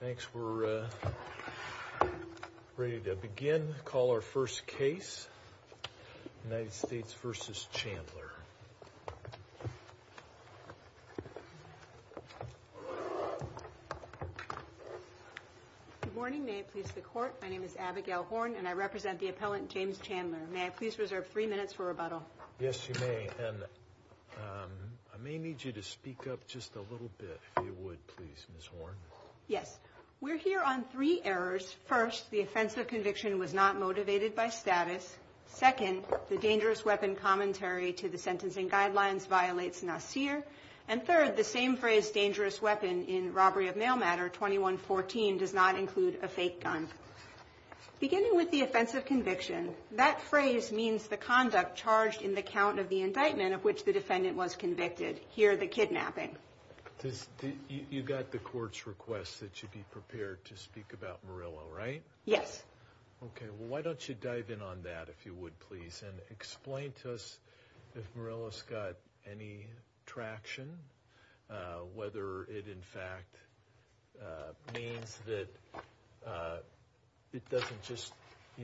Thanks. We're ready to begin. Call our first case. United States v. Chandler. Good morning. May it please the court. My name is Abigail Horn and I represent the appellant James Chandler. May I please reserve three minutes for rebuttal? Yes, you may. And I may need you to speak up just a little bit, if you would, please, Ms. Horn. Yes. We're here on three errors. First, the offense of conviction was not motivated by status. Second, the dangerous weapon commentary to the sentencing guidelines violates NACIR. And third, the same phrase dangerous weapon in robbery of mail matter 2114 does not include a fake gun. Beginning with the offense of conviction, that phrase means the conduct charged in the count of the indictment of which the defendant was convicted. Hear the kidnapping. You got the court's request that you be prepared to speak about Murillo, right? Yes. OK, well, why don't you dive in on that, if you would, please, and explain to us if Murillo's got any traction, whether it in fact means that it doesn't just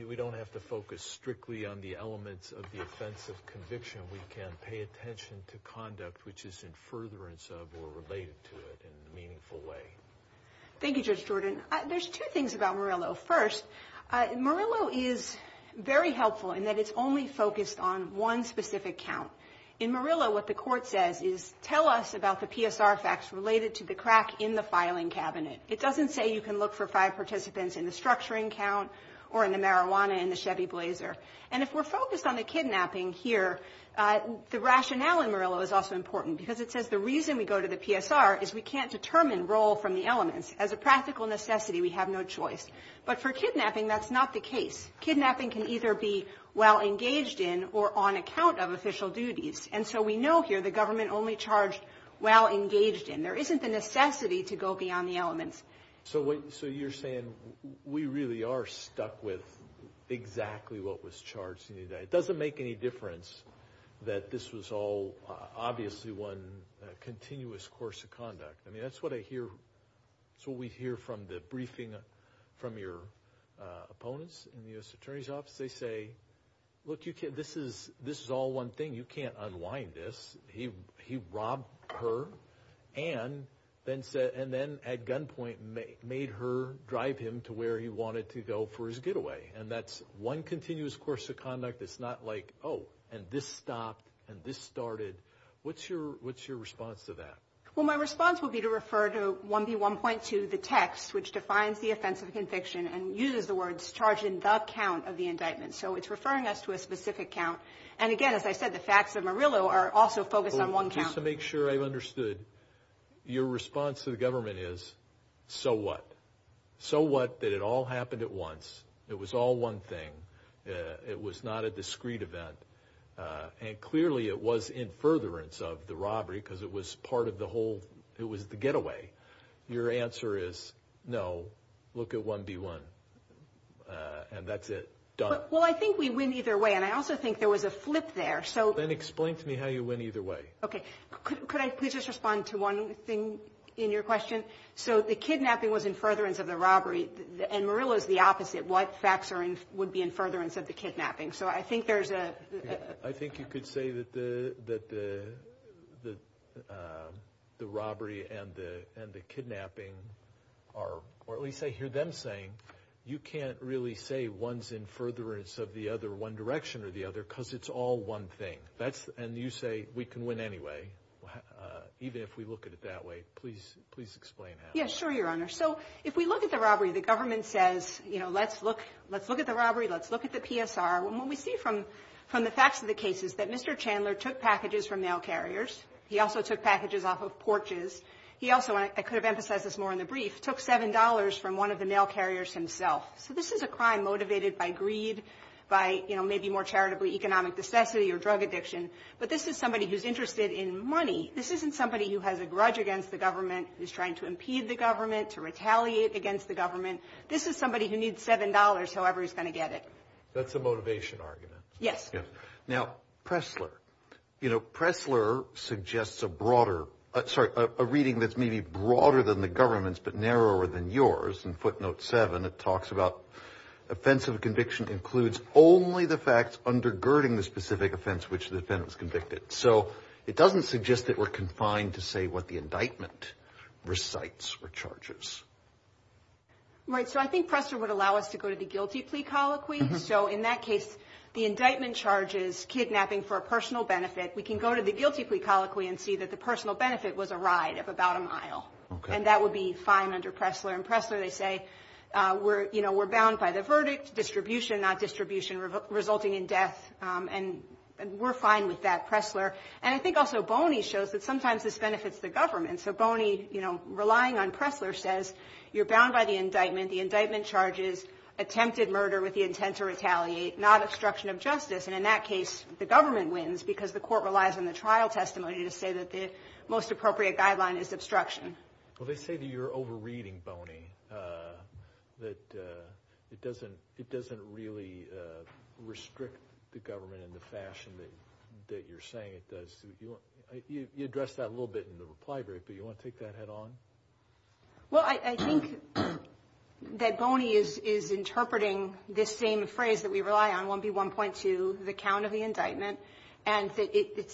we don't have to focus strictly on the elements of the offense of conviction. We can pay attention to conduct which is in furtherance of or related to it in a meaningful way. Thank you, Judge Jordan. There's two things about Murillo. First, Murillo is very helpful in that it's only focused on one specific count in Murillo. What the court says is tell us about the PSR facts related to the crack in the filing cabinet. It doesn't say you can look for five participants in the structuring count or in the marijuana in the Chevy Blazer. And if we're focused on the kidnapping here, the rationale in Murillo is also important, because it says the reason we go to the PSR is we can't determine role from the elements as a practical necessity. We have no choice. But for kidnapping, that's not the case. Kidnapping can either be well engaged in or on account of official duties. And so we know here the government only charged well engaged in there isn't the necessity to go beyond the elements. So you're saying we really are stuck with exactly what was charged. It doesn't make any difference that this was all obviously one continuous course of conduct. I mean, that's what I hear. So we hear from the briefing from your opponents in the U.S. Attorney's Office. They say, look, you can't this is this is all one thing. You can't unwind this. He he robbed her and then said and then at gunpoint made her drive him to where he wanted to go for his getaway. And that's one continuous course of conduct. It's not like, oh, and this stopped and this started. What's your what's your response to that? Well, my response will be to refer to 1B1.2, the text which defines the offense of conviction and uses the words charge in the count of the indictment. So it's referring us to a specific count. And again, as I said, the facts of Murillo are also focused on one count to make sure I understood. Your response to the government is so what? So what? That it all happened at once. It was all one thing. It was not a discreet event. And clearly it was in furtherance of the robbery because it was part of the whole. It was the getaway. Your answer is no. Look at 1B1 and that's it. Well, I think we win either way. And I also think there was a flip there. So then explain to me how you win either way. OK, could I please just respond to one thing in your question? So the kidnapping was in furtherance of the robbery and Murillo is the opposite. What facts are in would be in furtherance of the kidnapping. So I think there's a. I think you could say that the that the the robbery and the and the kidnapping are or at least I hear them saying you can't really say one's in furtherance of the other one direction or the other because it's all one thing. That's and you say we can win anyway, even if we look at it that way. Please, please explain. Yeah, sure. Your honor. So if we look at the robbery, the government says, you know, let's look let's look at the robbery. Let's look at the PSR when we see from from the facts of the cases that Mr. Chandler took packages from mail carriers. He also took packages off of porches. He also I could have emphasized this more in the brief took seven dollars from one of the mail carriers himself. So this is a crime motivated by greed, by, you know, maybe more charitably economic necessity or drug addiction. But this is somebody who's interested in money. This isn't somebody who has a grudge against the government is trying to impede the government to retaliate against the government. This is somebody who needs seven dollars. However, he's going to get it. That's a motivation argument. Yes. Yeah. Now, Pressler, you know, Pressler suggests a broader. Sorry. A reading that's maybe broader than the government's, but narrower than yours. And footnote seven, it talks about offensive conviction includes only the facts undergirding the specific offense which the defendant was convicted. So it doesn't suggest that we're confined to say what the indictment recites or charges. Right. So I think Pressler would allow us to go to the guilty plea colloquy. So in that case, the indictment charges kidnapping for a personal benefit. We can go to the guilty plea colloquy and see that the personal benefit was a ride of about a mile. And that would be fine under Pressler and Pressler. They say we're you know, we're bound by the verdict distribution, not distribution resulting in death. And we're fine with that. Pressler. And I think also Boney shows that sometimes this benefits the government. So Boney, you know, relying on Pressler says you're bound by the indictment. The indictment charges attempted murder with the intent to retaliate, not obstruction of justice. And in that case, the government wins because the court relies on the trial testimony to say that the most appropriate guideline is obstruction. Well, they say that you're overreading Boney, that it doesn't it doesn't really restrict the government in the fashion that you're saying it does. You address that a little bit in the reply brief, but you want to take that head on? Well, I think that Boney is interpreting this same phrase that we rely on, 1B1.2, the count of the indictment. And it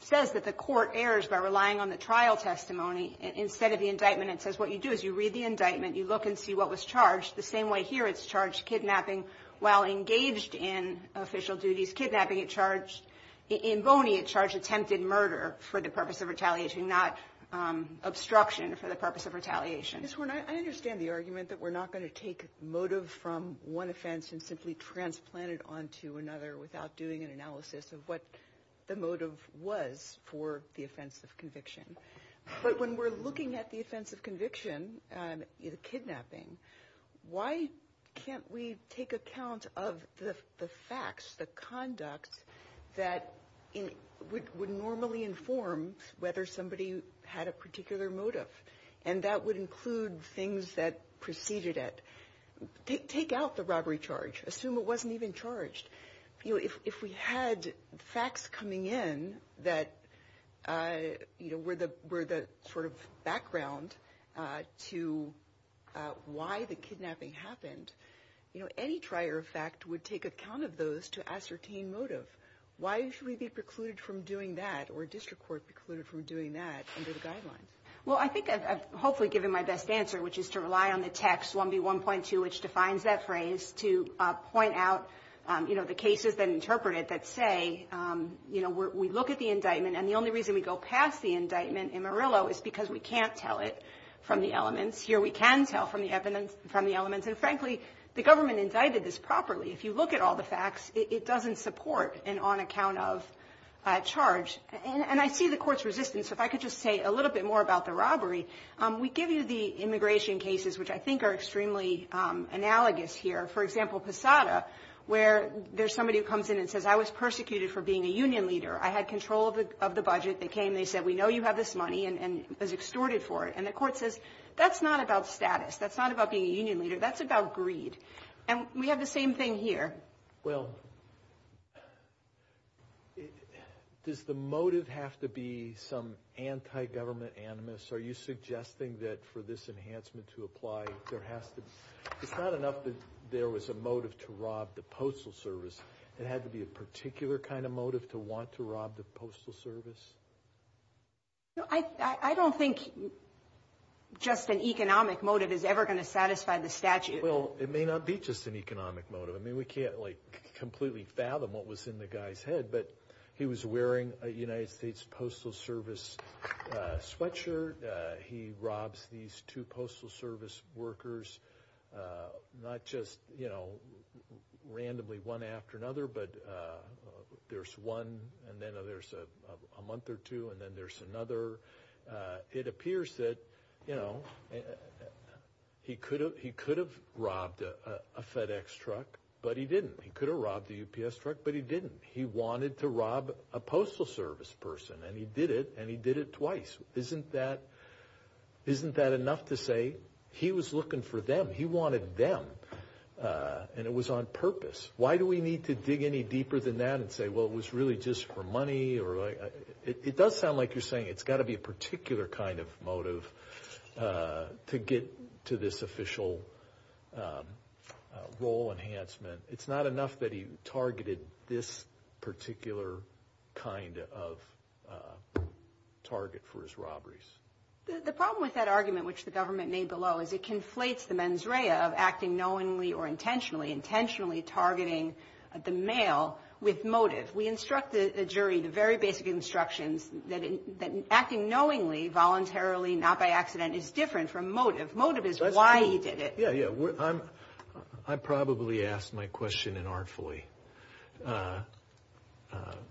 says that the court errs by relying on the trial testimony instead of the indictment. It says what you do is you read the indictment. You look and see what was charged the same way here. It's charged kidnapping while engaged in official duties. Kidnapping it charged in Boney, it charged attempted murder for the purpose of retaliation, not obstruction for the purpose of retaliation. I understand the argument that we're not going to take motive from one offense and simply transplanted onto another without doing an analysis of what the motive was for the offense of conviction. But when we're looking at the offense of conviction, kidnapping, why can't we take account of the facts, the conduct that would normally inform whether somebody had a particular motive? And that would include things that preceded it. Take out the robbery charge. Assume it wasn't even charged. If we had facts coming in that were the sort of background to why the kidnapping happened, any trier of fact would take account of those to ascertain motive. Why should we be precluded from doing that or district court precluded from doing that under the guidelines? Well, I think I've hopefully given my best answer, which is to rely on the text 1B 1.2, which defines that phrase to point out, you know, the cases that interpreted that say, you know, we look at the indictment. And the only reason we go past the indictment in Murillo is because we can't tell it from the elements here. We can tell from the evidence from the elements. And frankly, the government indicted this properly. If you look at all the facts, it doesn't support an on account of charge. And I see the court's resistance. If I could just say a little bit more about the robbery, we give you the immigration cases, which I think are extremely analogous here. For example, Posada, where there's somebody who comes in and says, I was persecuted for being a union leader. I had control of the budget. They came. They said, we know you have this money and was extorted for it. And the court says, that's not about status. That's not about being a union leader. That's about greed. And we have the same thing here. Well, does the motive have to be some anti-government animus? Are you suggesting that for this enhancement to apply, there has to be, it's not enough that there was a motive to rob the Postal Service. It had to be a particular kind of motive to want to rob the Postal Service? I don't think just an economic motive is ever going to satisfy the statute. Well, it may not be just an economic motive. I mean, we can't, like, completely fathom what was in the guy's head. But he was wearing a United States Postal Service sweatshirt. He robs these two Postal Service workers, not just, you know, randomly one after another. But there's one, and then there's a month or two, and then there's another. It appears that, you know, he could have robbed a FedEx truck, but he didn't. He could have robbed a UPS truck, but he didn't. He wanted to rob a Postal Service person, and he did it, and he did it twice. Isn't that enough to say he was looking for them? He wanted them, and it was on purpose. Why do we need to dig any deeper than that and say, well, it was really just for money? It does sound like you're saying it's got to be a particular kind of motive to get to this official role enhancement. It's not enough that he targeted this particular kind of target for his robberies. The problem with that argument, which the government made below, is it conflates the mens rea of acting knowingly or intentionally, intentionally targeting the male with motive. We instruct the jury, the very basic instructions, that acting knowingly, voluntarily, not by accident, is different from motive. Motive is why he did it. Yeah, yeah. I probably asked my question inartfully.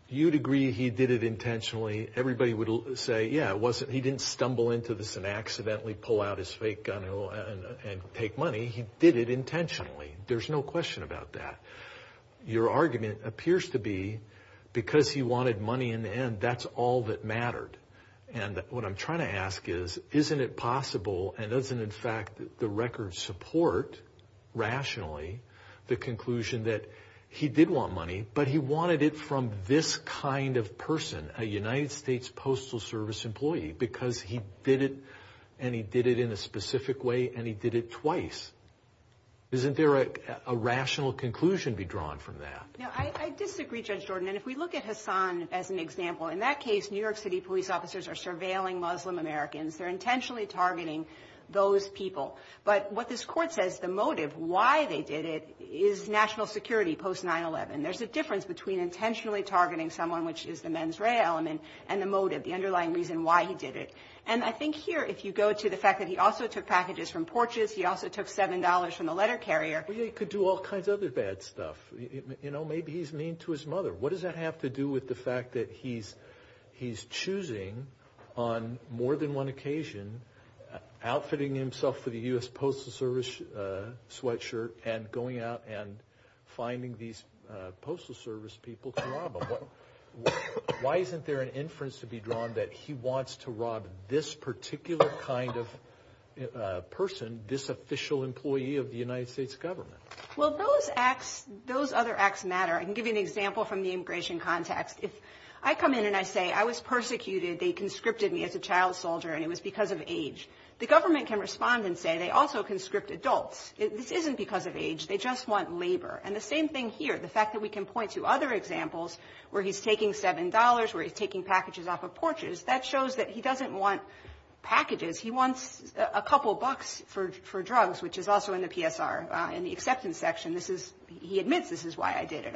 You'd agree he did it intentionally. Everybody would say, yeah, he didn't stumble into this and accidentally pull out his fake gun and take money. He did it intentionally. There's no question about that. Your argument appears to be because he wanted money in the end, that's all that mattered. And what I'm trying to ask is, isn't it possible, and doesn't, in fact, the record support, rationally, the conclusion that he did want money, but he wanted it from this kind of person, a United States Postal Service employee, because he did it, and he did it in a specific way, and he did it twice. Isn't there a rational conclusion to be drawn from that? No, I disagree, Judge Jordan. And if we look at Hassan as an example, in that case, New York City police officers are surveilling Muslim Americans. They're intentionally targeting those people. But what this court says, the motive, why they did it, is national security post-9-11. There's a difference between intentionally targeting someone, which is the mens rea element, and the motive, the underlying reason why he did it. And I think here, if you go to the fact that he also took packages from porches, he also took $7 from the letter carrier. Well, he could do all kinds of other bad stuff. You know, maybe he's mean to his mother. What does that have to do with the fact that he's choosing, on more than one occasion, outfitting himself with a U.S. Postal Service sweatshirt and going out and finding these Postal Service people to rob him? Why isn't there an inference to be drawn that he wants to rob this particular kind of person, this official employee of the United States government? Well, those acts, those other acts matter. I can give you an example from the immigration context. If I come in and I say, I was persecuted. They conscripted me as a child soldier, and it was because of age. The government can respond and say they also conscript adults. This isn't because of age. They just want labor. And the same thing here, the fact that we can point to other examples where he's taking $7, where he's taking packages off of porches, that shows that he doesn't want packages. He wants a couple bucks for drugs, which is also in the PSR, in the acceptance section. He admits this is why I did it.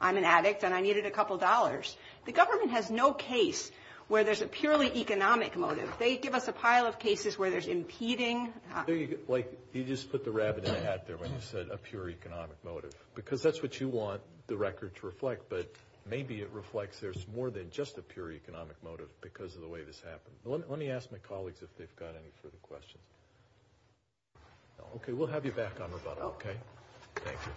I'm an addict, and I needed a couple dollars. The government has no case where there's a purely economic motive. They give us a pile of cases where there's impeding. You just put the rabbit in the hat there when you said a pure economic motive, because that's what you want the record to reflect, but maybe it reflects there's more than just a pure economic motive because of the way this happened. Let me ask my colleagues if they've got any further questions. Okay, we'll have you back on rebuttal, okay? Thank you.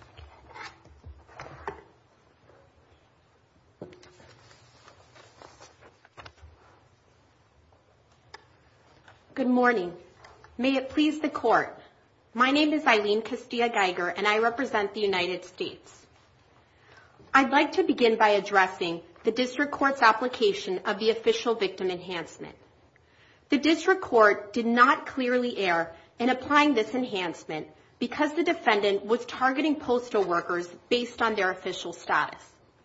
Good morning. May it please the Court. My name is Eileen Castilla-Geiger, and I represent the United States. I'd like to begin by addressing the district court's application of the official victim enhancement. The district court did not clearly err in applying this enhancement because the defendant was targeting postal workers based on their official status.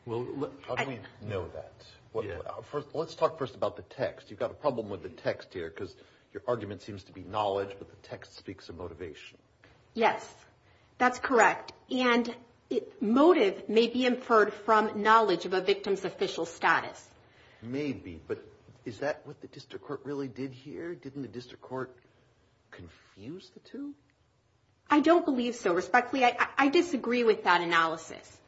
How do we know that? Let's talk first about the text. You've got a problem with the text here because your argument seems to be knowledge, but the text speaks of motivation. Yes, that's correct. And motive may be inferred from knowledge of a victim's official status. Maybe, but is that what the district court really did here? Didn't the district court confuse the two? I don't believe so. Respectfully, I disagree with that analysis.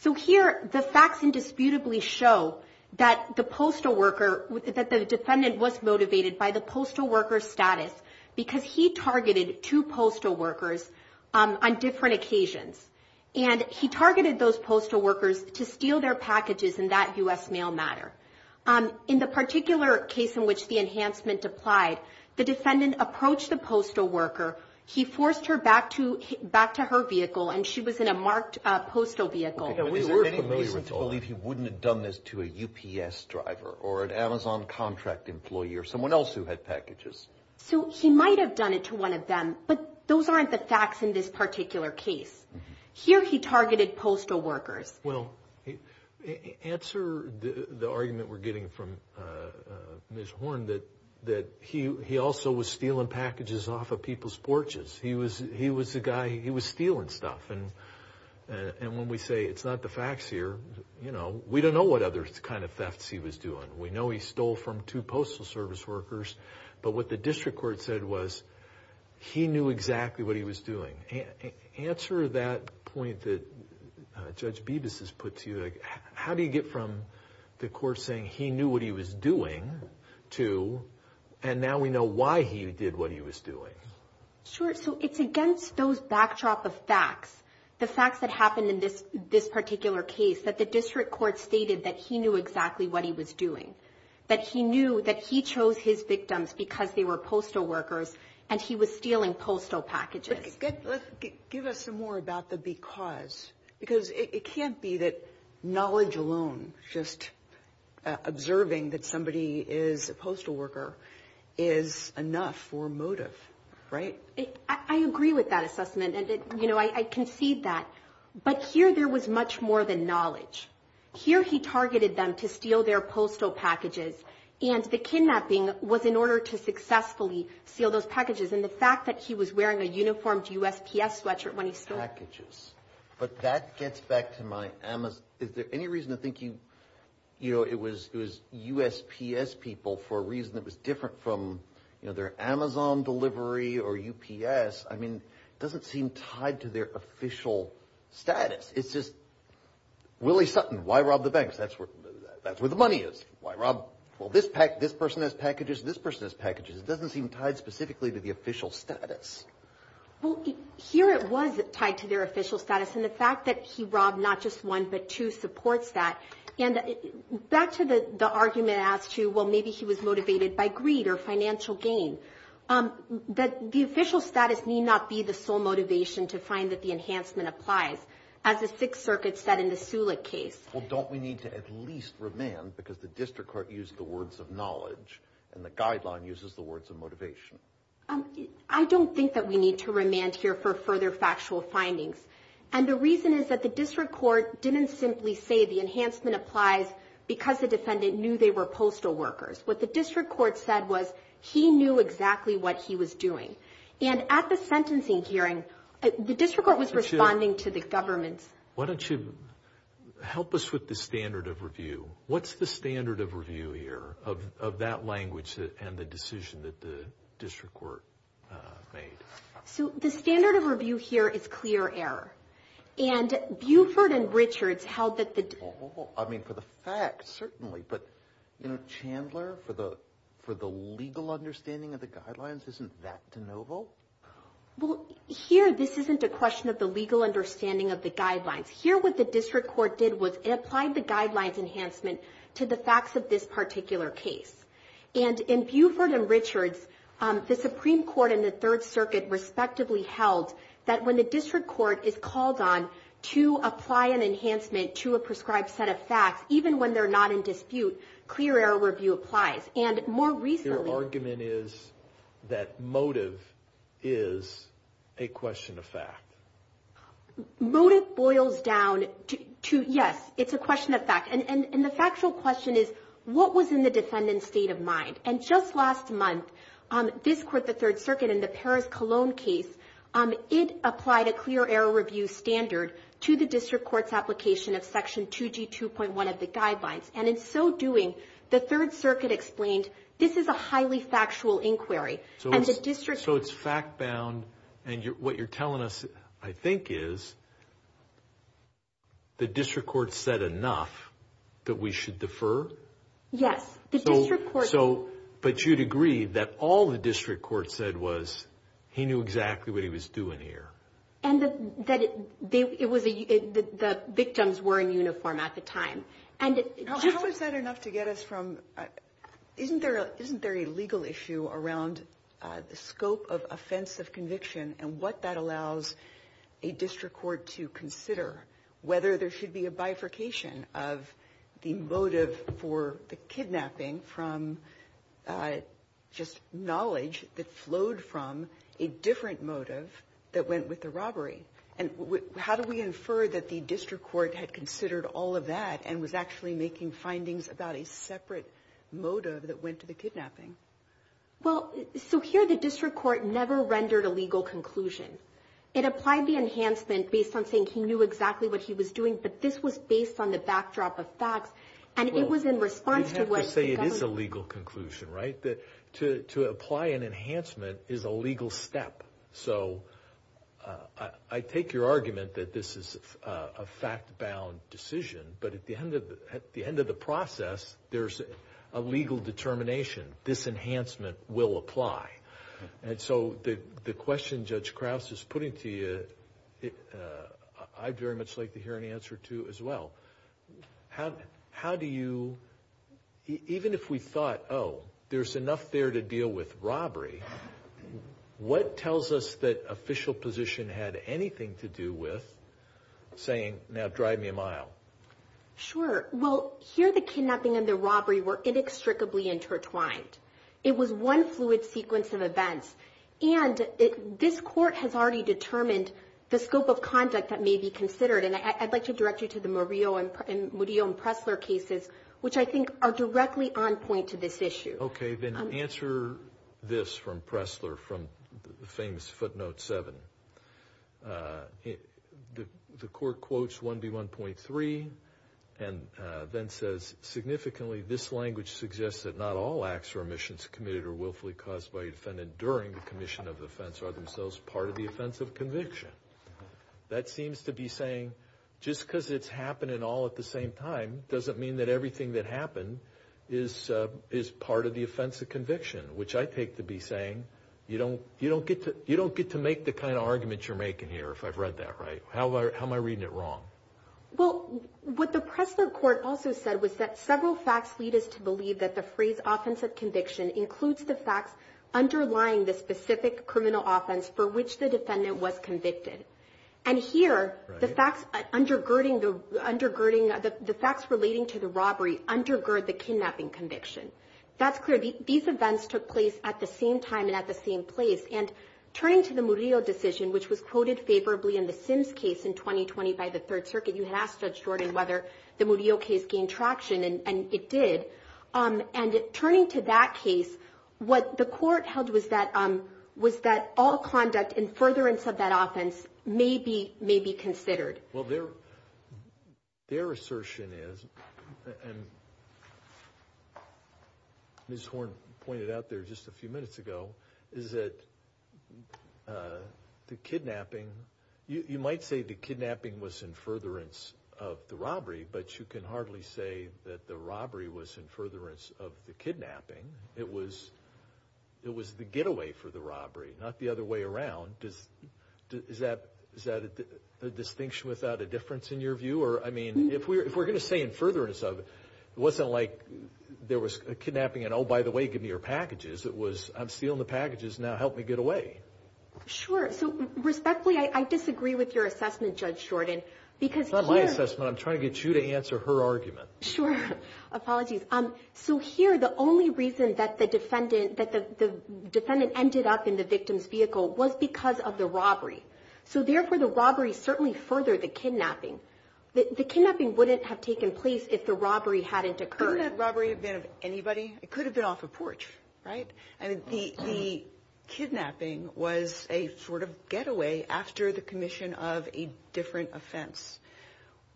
So here the facts indisputably show that the postal worker, that the defendant was motivated by the postal worker's status because he targeted two postal workers on different occasions. And he targeted those postal workers to steal their packages in that U.S. mail matter. In the particular case in which the enhancement applied, the defendant approached the postal worker, he forced her back to her vehicle, and she was in a marked postal vehicle. Is there any reason to believe he wouldn't have done this to a UPS driver or an Amazon contract employee or someone else who had packages? So he might have done it to one of them, but those aren't the facts in this particular case. Here he targeted postal workers. Well, answer the argument we're getting from Ms. Horn that he also was stealing packages off of people's porches. He was the guy, he was stealing stuff. And when we say it's not the facts here, you know, we don't know what other kind of thefts he was doing. We know he stole from two postal service workers. But what the district court said was he knew exactly what he was doing. Answer that point that Judge Bibas has put to you. How do you get from the court saying he knew what he was doing to and now we know why he did what he was doing? Sure. So it's against those backdrop of facts, the facts that happened in this particular case, that the district court stated that he knew exactly what he was doing, that he knew that he chose his victims because they were postal workers and he was stealing postal packages. Give us some more about the because. Because it can't be that knowledge alone, just observing that somebody is a postal worker is enough for motive, right? I agree with that assessment, and, you know, I concede that. But here there was much more than knowledge. Here he targeted them to steal their postal packages, and the kidnapping was in order to successfully steal those packages. And the fact that he was wearing a uniformed USPS sweatshirt when he stole it. Packages. But that gets back to my Amazon. Is there any reason to think, you know, it was USPS people for a reason. It was different from, you know, their Amazon delivery or UPS. I mean, it doesn't seem tied to their official status. It's just Willie Sutton. Why rob the banks? That's where the money is. Why rob? Well, this person has packages. This person has packages. It doesn't seem tied specifically to the official status. Well, here it was tied to their official status, and the fact that he robbed not just one but two supports that. And back to the argument as to, well, maybe he was motivated by greed or financial gain. The official status need not be the sole motivation to find that the enhancement applies. As the Sixth Circuit said in the Sulik case. Well, don't we need to at least remand, because the district court used the words of knowledge, and the guideline uses the words of motivation. I don't think that we need to remand here for further factual findings. And the reason is that the district court didn't simply say the enhancement applies because the defendant knew they were postal workers. What the district court said was he knew exactly what he was doing. And at the sentencing hearing, the district court was responding to the government. Why don't you help us with the standard of review? What's the standard of review here of that language and the decision that the district court made? So the standard of review here is clear error. And Buford and Richards held that the- Oh, I mean, for the facts, certainly. But, you know, Chandler, for the legal understanding of the guidelines, isn't that de novo? Well, here this isn't a question of the legal understanding of the guidelines. Here what the district court did was it applied the guidelines enhancement to the facts of this particular case. And in Buford and Richards, the Supreme Court and the Third Circuit respectively held that when the district court is called on to apply an enhancement to a prescribed set of facts, even when they're not in dispute, clear error review applies. And more recently- Your argument is that motive is a question of fact. Motive boils down to, yes, it's a question of fact. And the factual question is, what was in the defendant's state of mind? And just last month, this court, the Third Circuit, in the Paris-Cologne case, it applied a clear error review standard to the district court's application of Section 2G2.1 of the guidelines. And in so doing, the Third Circuit explained, this is a highly factual inquiry. So it's fact-bound. And what you're telling us, I think, is the district court said enough that we should defer? Yes. But you'd agree that all the district court said was he knew exactly what he was doing here. And that the victims were in uniform at the time. How is that enough to get us from isn't there a legal issue around the scope of offense of conviction and what that allows a district court to consider, whether there should be a bifurcation of the motive for the kidnapping from just knowledge that flowed from a different motive that went with the robbery? And how do we infer that the district court had considered all of that and was actually making findings about a separate motive that went to the kidnapping? Well, so here the district court never rendered a legal conclusion. It applied the enhancement based on saying he knew exactly what he was doing, but this was based on the backdrop of facts. And it was in response to what the government... I'd have to say it is a legal conclusion, right? To apply an enhancement is a legal step. So I take your argument that this is a fact-bound decision, but at the end of the process, there's a legal determination. This enhancement will apply. And so the question Judge Krause is putting to you, I'd very much like to hear an answer to as well. How do you, even if we thought, oh, there's enough there to deal with robbery, what tells us that official position had anything to do with saying, now drive me a mile? Sure. Well, here the kidnapping and the robbery were inextricably intertwined. It was one fluid sequence of events. And this court has already determined the scope of conduct that may be considered, and I'd like to direct you to the Murillo and Pressler cases, which I think are directly on point to this issue. Okay. Then answer this from Pressler, from the famous footnote 7. The court quotes 1B1.3 and then says, significantly, this language suggests that not all acts or omissions committed or willfully caused by a defendant during the commission of offense are themselves part of the offense of conviction. That seems to be saying just because it's happening all at the same time is part of the offense of conviction, which I take to be saying you don't get to make the kind of argument you're making here, if I've read that right. How am I reading it wrong? Well, what the Pressler court also said was that several facts lead us to believe that the phrase offense of conviction includes the facts underlying the specific criminal offense for which the defendant was convicted. And here, the facts relating to the robbery undergird the kidnapping conviction. That's clear. These events took place at the same time and at the same place. And turning to the Murillo decision, which was quoted favorably in the Sims case in 2020 by the Third Circuit, you had asked Judge Jordan whether the Murillo case gained traction, and it did. And turning to that case, what the court held was that all conduct in furtherance of that offense may be considered. Well, their assertion is, and Ms. Horn pointed out there just a few minutes ago, is that the kidnapping, you might say the kidnapping was in furtherance of the robbery, but you can hardly say that the robbery was in furtherance of the kidnapping. It was the getaway for the robbery, not the other way around. Is that a distinction without a difference in your view? I mean, if we're going to say in furtherance of it, it wasn't like there was a kidnapping and, oh, by the way, give me your packages. It was, I'm stealing the packages, now help me get away. Sure. So respectfully, I disagree with your assessment, Judge Jordan. It's not my assessment. I'm trying to get you to answer her argument. Sure. Apologies. So here, the only reason that the defendant ended up in the victim's vehicle was because of the robbery. So, therefore, the robbery certainly furthered the kidnapping. The kidnapping wouldn't have taken place if the robbery hadn't occurred. Couldn't that robbery have been of anybody? It could have been off a porch, right? I mean, the kidnapping was a sort of getaway after the commission of a different offense.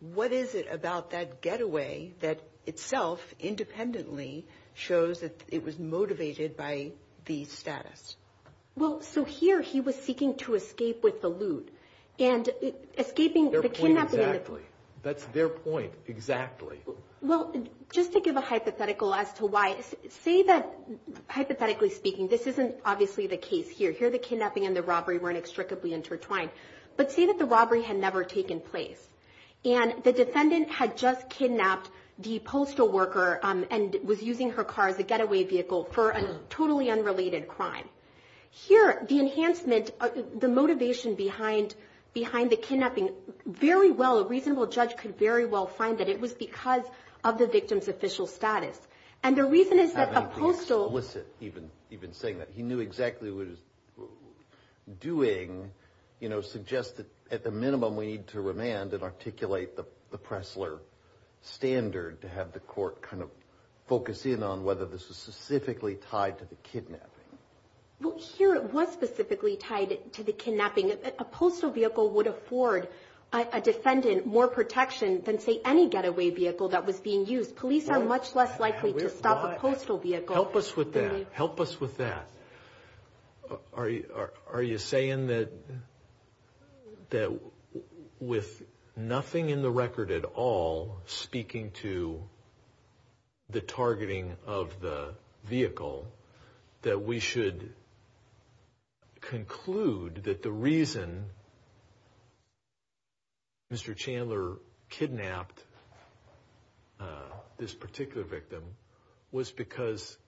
What is it about that getaway that itself independently shows that it was motivated by the status? Well, so here he was seeking to escape with the loot and escaping the kidnapping. Their point exactly. That's their point exactly. Well, just to give a hypothetical as to why. Say that, hypothetically speaking, this isn't obviously the case here. Here the kidnapping and the robbery weren't inextricably intertwined. But say that the robbery had never taken place. And the defendant had just kidnapped the postal worker and was using her car as a getaway vehicle for a totally unrelated crime. Here, the enhancement, the motivation behind the kidnapping, very well a reasonable judge could very well find that it was because of the victim's official status. And the reason is that a postal… Having the explicit, even saying that he knew exactly what he was doing, you know, suggests that at the minimum we need to remand and articulate the Pressler standard to have the court kind of focus in on whether this was specifically tied to the kidnapping. Well, here it was specifically tied to the kidnapping. A postal vehicle would afford a defendant more protection than, say, any getaway vehicle that was being used. Police are much less likely to stop a postal vehicle. Help us with that. Help us with that. Are you saying that with nothing in the record at all speaking to the targeting of the vehicle, that we should conclude that the reason Mr. Chandler kidnapped this particular victim was because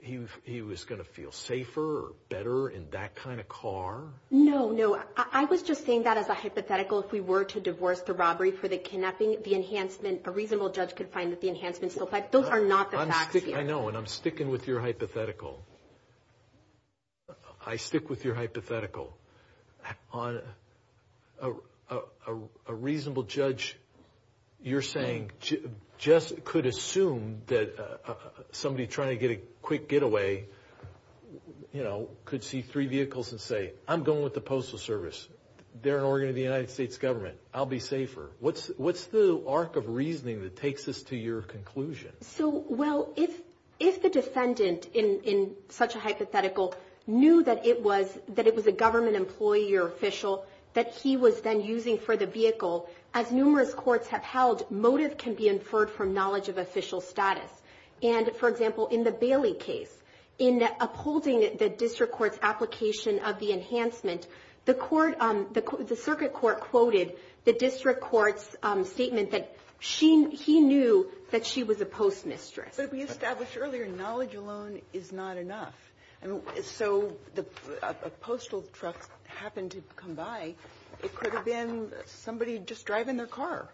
he was going to feel safer or better in that kind of car? No, no. I was just saying that as a hypothetical. If we were to divorce the robbery for the kidnapping, the enhancement, a reasonable judge could find that the enhancement still… Those are not the facts here. I know, and I'm sticking with your hypothetical. I stick with your hypothetical. A reasonable judge, you're saying, just could assume that somebody trying to get a quick getaway, you know, could see three vehicles and say, I'm going with the Postal Service. They're an organ of the United States government. I'll be safer. What's the arc of reasoning that takes us to your conclusion? So, well, if the defendant, in such a hypothetical, knew that it was a government employee or official that he was then using for the vehicle, as numerous courts have held, motive can be inferred from knowledge of official status. And, for example, in the Bailey case, in upholding the district court's application of the enhancement, the circuit court quoted the district court's statement that he knew that she was a postmistress. But we established earlier, knowledge alone is not enough. So, a postal truck happened to come by. It could have been somebody just driving their car.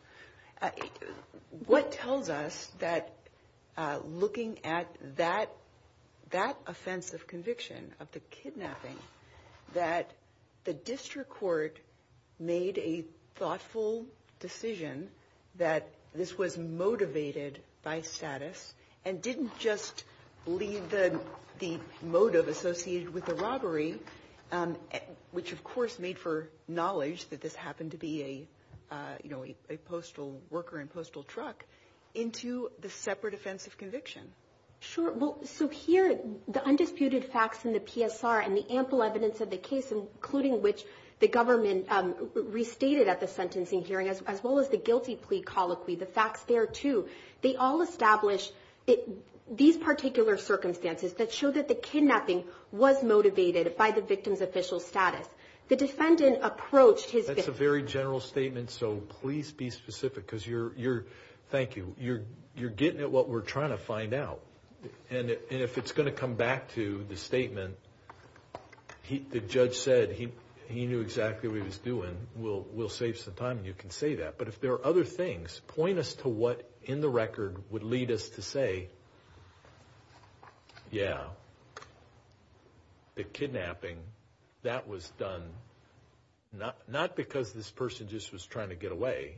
What tells us that looking at that offense of conviction, of the kidnapping, that the district court made a thoughtful decision that this was motivated by status and didn't just leave the motive associated with the robbery, which, of course, made for knowledge that this happened to be a postal worker and postal truck, into the separate offense of conviction? Sure. So, here, the undisputed facts in the PSR and the ample evidence of the case, including which the government restated at the sentencing hearing, as well as the guilty plea colloquy, the facts there, too, they all establish these particular circumstances that show that the kidnapping was motivated by the victim's official status. The defendant approached his victim. That's a very general statement, so please be specific because you're, thank you, you're getting at what we're trying to find out. And if it's going to come back to the statement, the judge said he knew exactly what he was doing, we'll save some time and you can say that. But if there are other things, point us to what in the record would lead us to say, yeah, the kidnapping, that was done not because this person just was trying to get away,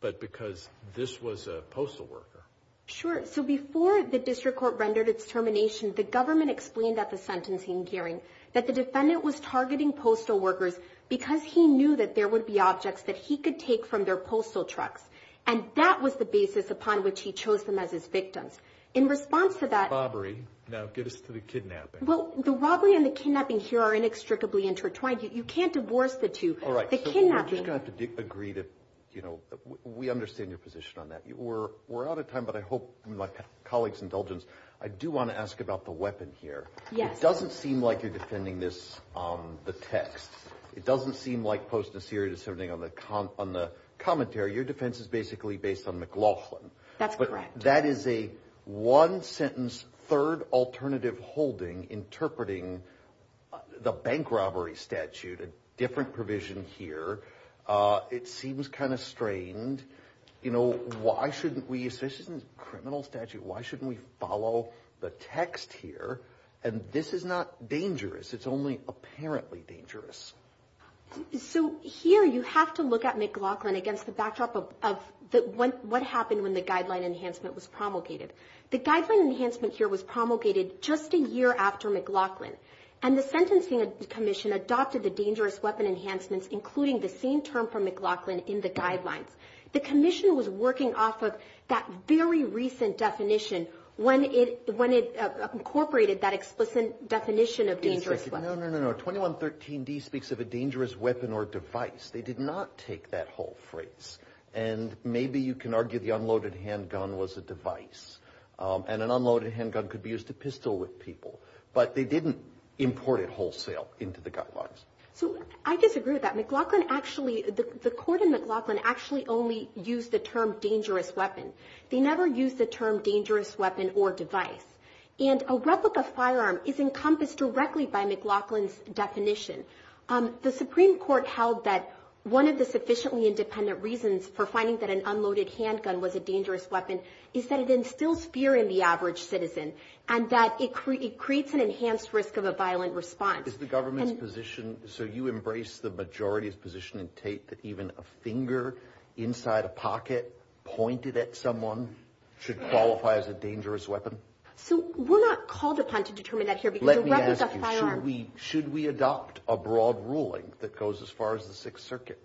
but because this was a postal worker. Sure. So, before the district court rendered its termination, the government explained at the sentencing hearing that the defendant was targeting postal workers because he knew that there would be objects that he could take from their postal trucks. And that was the basis upon which he chose them as his victims. In response to that. Bobbery. No, get us to the kidnapping. Well, the robbery and the kidnapping here are inextricably intertwined. You can't divorce the two. All right. The kidnapping. So, we're just going to have to agree to, you know, we understand your position on that. We're out of time, but I hope, with my colleague's indulgence, I do want to ask about the weapon here. Yes. It doesn't seem like you're defending this on the text. It doesn't seem like Post and Assyria did something on the commentary. Your defense is basically based on McLaughlin. That's correct. That is a one-sentence, third alternative holding interpreting the bank robbery statute, a different provision here. It seems kind of strained. You know, why shouldn't we, this isn't a criminal statute, why shouldn't we follow the text here? And this is not dangerous. It's only apparently dangerous. So, here you have to look at McLaughlin against the backdrop of what happened when the guideline enhancement was promulgated. The guideline enhancement here was promulgated just a year after McLaughlin, and the sentencing commission adopted the dangerous weapon enhancements, including the same term from McLaughlin in the guidelines. The commission was working off of that very recent definition when it incorporated that explicit definition of dangerous weapons. No, no, no. 2113D speaks of a dangerous weapon or device. They did not take that whole phrase. And maybe you can argue the unloaded handgun was a device. And an unloaded handgun could be used to pistol with people. But they didn't import it wholesale into the guidelines. So, I disagree with that. McLaughlin actually, the court in McLaughlin actually only used the term dangerous weapon. They never used the term dangerous weapon or device. And a replica firearm is encompassed directly by McLaughlin's definition. The Supreme Court held that one of the sufficiently independent reasons for finding that an unloaded handgun was a dangerous weapon is that it instills fear in the average citizen and that it creates an enhanced risk of a violent response. Is the government's position, so you embrace the majority's position in Tate that even a finger inside a pocket pointed at someone should qualify as a dangerous weapon? So, we're not called upon to determine that here because a replica firearm Should we adopt a broad ruling that goes as far as the Sixth Circuit?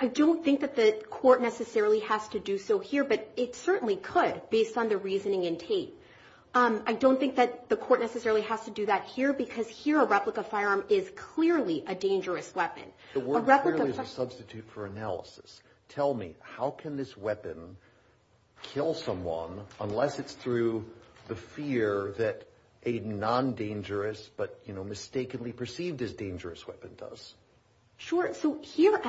I don't think that the court necessarily has to do so here, but it certainly could based on the reasoning in Tate. I don't think that the court necessarily has to do that here because here a replica firearm is clearly a dangerous weapon. The word clearly is a substitute for analysis. Tell me, how can this weapon kill someone unless it's through the fear that a non-dangerous but mistakenly perceived as dangerous weapon does? Sure, so here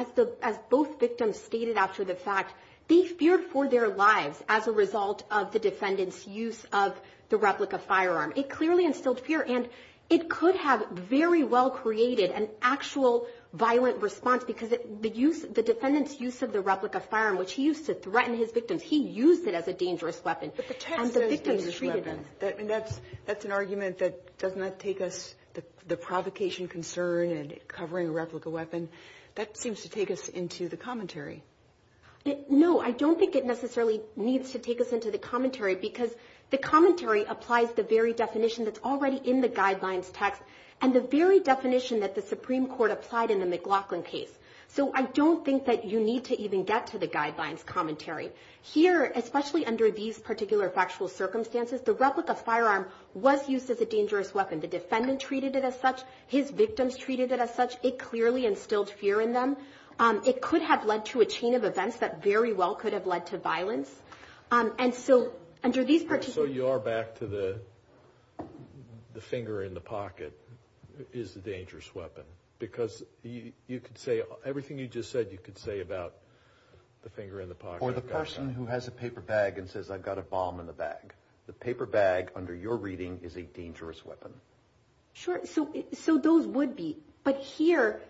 as both victims stated after the fact, they feared for their lives as a result of the defendant's use of the replica firearm. It clearly instilled fear and it could have very well created an actual violent response because the defendant's use of the replica firearm, which he used to threaten his victims, he used it as a dangerous weapon. But the text says dangerous weapon. That's an argument that does not take us the provocation concern and covering a replica weapon. That seems to take us into the commentary. No, I don't think it necessarily needs to take us into the commentary because the commentary applies the very definition that's already in the guidelines text and the very definition that the Supreme Court applied in the McLaughlin case. So, I don't think that you need to even get to the guidelines commentary. Here, especially under these particular factual circumstances, the replica firearm was used as a dangerous weapon. The defendant treated it as such. His victims treated it as such. It clearly instilled fear in them. It could have led to a chain of events that very well could have led to violence. And so, under these particular— So, you are back to the finger in the pocket is the dangerous weapon or the person who has a paper bag and says, I've got a bomb in the bag. The paper bag under your reading is a dangerous weapon. Sure. So, those would be. But here,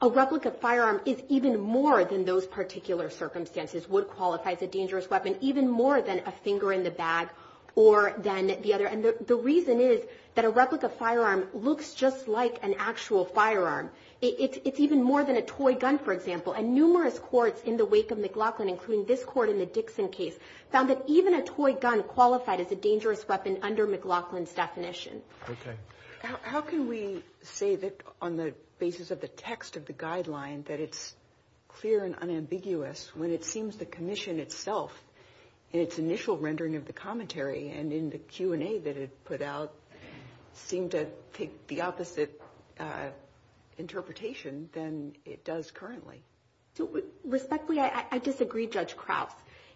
a replica firearm is even more than those particular circumstances would qualify as a dangerous weapon, even more than a finger in the bag or than the other. And the reason is that a replica firearm looks just like an actual firearm. It's even more than a toy gun, for example. And numerous courts in the wake of McLaughlin, including this court in the Dixon case, found that even a toy gun qualified as a dangerous weapon under McLaughlin's definition. Okay. How can we say that on the basis of the text of the guideline that it's clear and unambiguous when it seems the commission itself, in its initial rendering of the commentary and in the Q&A that it put out, seemed to take the opposite interpretation than it does currently? Respectfully, I disagree, Judge Krause.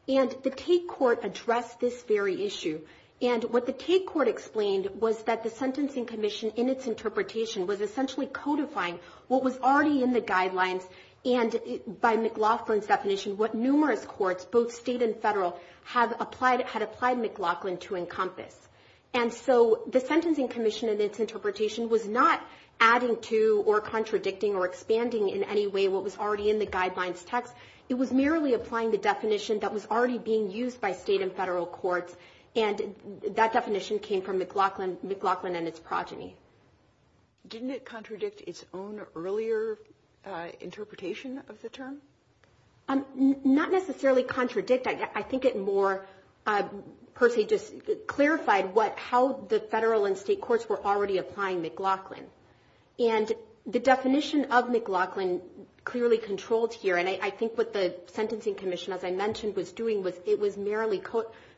And the Tate court addressed this very issue. And what the Tate court explained was that the Sentencing Commission, in its interpretation, was essentially codifying what was already in the guidelines and, by McLaughlin's definition, what numerous courts, both state and federal, had applied McLaughlin to encompass. And so the Sentencing Commission, in its interpretation, was not adding to or contradicting or expanding in any way what was already in the guidelines text. It was merely applying the definition that was already being used by state and federal courts. And that definition came from McLaughlin and its progeny. Didn't it contradict its own earlier interpretation of the term? Not necessarily contradict. I think it more per se just clarified how the federal and state courts were already applying McLaughlin. And the definition of McLaughlin clearly controlled here. And I think what the Sentencing Commission, as I mentioned, was doing was it was merely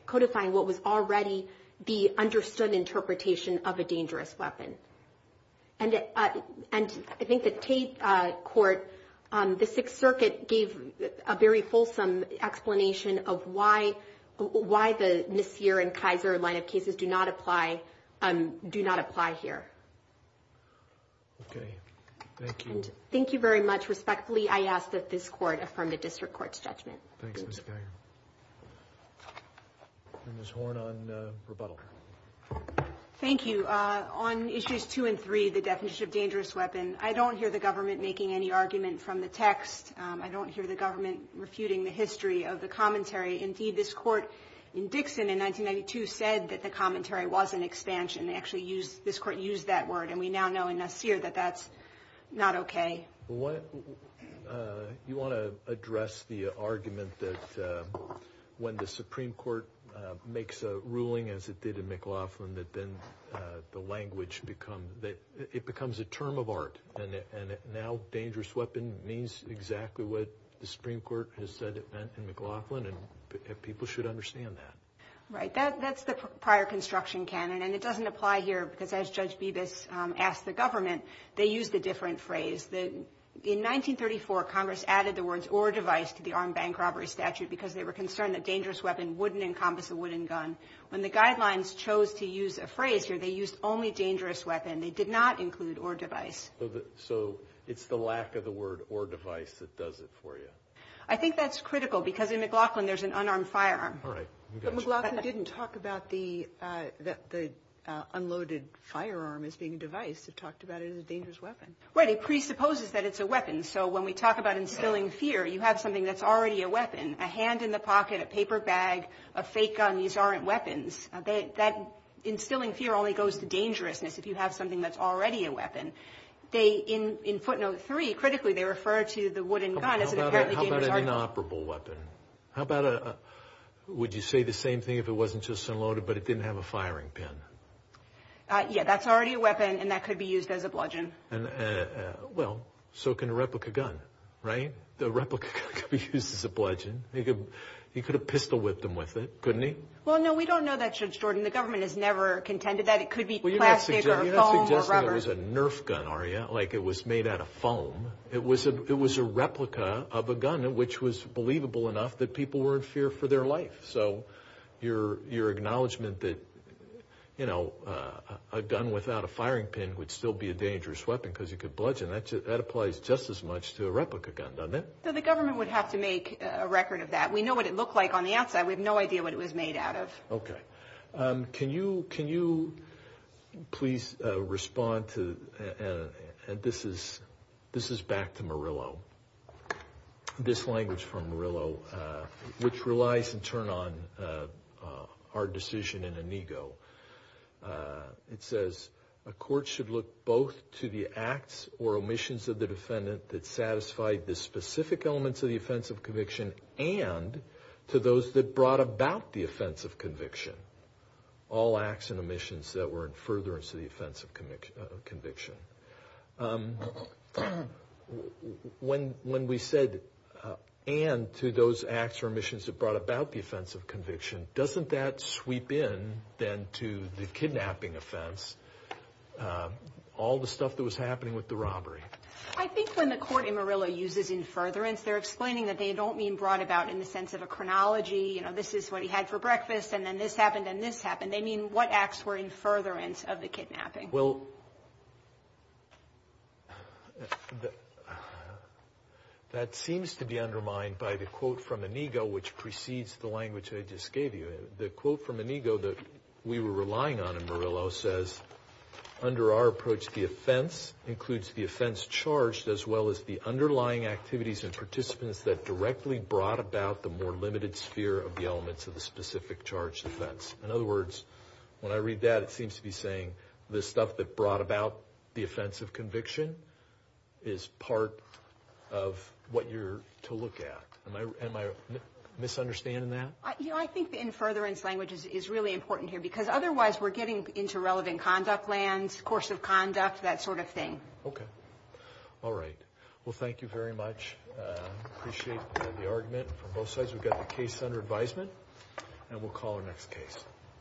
codifying what was already the understood interpretation of a dangerous weapon. And I think the Tate court, the Sixth Circuit gave a very fulsome explanation of why the Messier and Kaiser line of cases do not apply here. Okay. Thank you. Thank you very much. Respectfully, I ask that this court affirm the district court's judgment. Thanks, Ms. Geiger. Ms. Horn on rebuttal. Thank you. On issues two and three, the definition of dangerous weapon, I don't hear the government making any argument from the text. I don't hear the government refuting the history of the commentary. Indeed, this court in Dixon in 1992 said that the commentary was an expansion. Actually, this court used that word. And we now know in Messier that that's not okay. You want to address the argument that when the Supreme Court makes a ruling, as it did in McLaughlin, that then the language becomes a term of art. And now dangerous weapon means exactly what the Supreme Court has said it meant in McLaughlin, and people should understand that. Right. That's the prior construction canon. And it doesn't apply here, because as Judge Bibas asked the government, they used a different phrase. In 1934, Congress added the words or device to the armed bank robbery statute because they were concerned that dangerous weapon wouldn't encompass a wooden gun. When the guidelines chose to use a phrase here, they used only dangerous weapon. They did not include or device. So it's the lack of the word or device that does it for you. I think that's critical, because in McLaughlin there's an unarmed firearm. All right. But McLaughlin didn't talk about the unloaded firearm as being a device. They just have talked about it as a dangerous weapon. Right. It presupposes that it's a weapon. So when we talk about instilling fear, you have something that's already a weapon, a hand in the pocket, a paper bag, a fake gun. These aren't weapons. Instilling fear only goes to dangerousness if you have something that's already a weapon. In footnote 3, critically, they refer to the wooden gun as an apparently dangerous weapon. How about an inoperable weapon? How about a – would you say the same thing if it wasn't just unloaded, but it didn't have a firing pin? Yeah, that's already a weapon, and that could be used as a bludgeon. Well, so can a replica gun, right? The replica gun could be used as a bludgeon. You could have pistol-whipped them with it, couldn't you? Well, no, we don't know that, Judge Jordan. The government has never contended that. It could be plastic or foam or rubber. Well, you're not suggesting it was a nerf gun, are you, like it was made out of foam? It was a replica of a gun, which was believable enough that people were in fear for their life. So your acknowledgement that, you know, a gun without a firing pin would still be a dangerous weapon because you could bludgeon, that applies just as much to a replica gun, doesn't it? So the government would have to make a record of that. We know what it looked like on the outside. We have no idea what it was made out of. Okay. Can you please respond to – and this is back to Murillo, this language from Murillo, which relies in turn on our decision in Inigo. It says, a court should look both to the acts or omissions of the defendant that satisfied the specific elements of the offense of conviction and to those that brought about the offense of conviction, all acts and omissions that were in furtherance of the offense of conviction. When we said and to those acts or omissions that brought about the offense of conviction, doesn't that sweep in then to the kidnapping offense, all the stuff that was happening with the robbery? I think when the court in Murillo uses in furtherance, they're explaining that they don't mean brought about in the sense of a chronology. You know, this is what he had for breakfast, and then this happened and this happened. They mean what acts were in furtherance of the kidnapping. Okay. Well, that seems to be undermined by the quote from Inigo, which precedes the language I just gave you. The quote from Inigo that we were relying on in Murillo says, under our approach, the offense includes the offense charged as well as the underlying activities and participants that directly brought about the more limited sphere of the elements of the specific charged offense. In other words, when I read that, it seems to be saying the stuff that brought about the offense of conviction is part of what you're to look at. Am I misunderstanding that? You know, I think the in furtherance language is really important here, because otherwise we're getting into relevant conduct lands, course of conduct, that sort of thing. Okay. All right. Well, thank you very much. Appreciate the argument from both sides. We've got the case under advisement, and we'll call our next case. Thank you.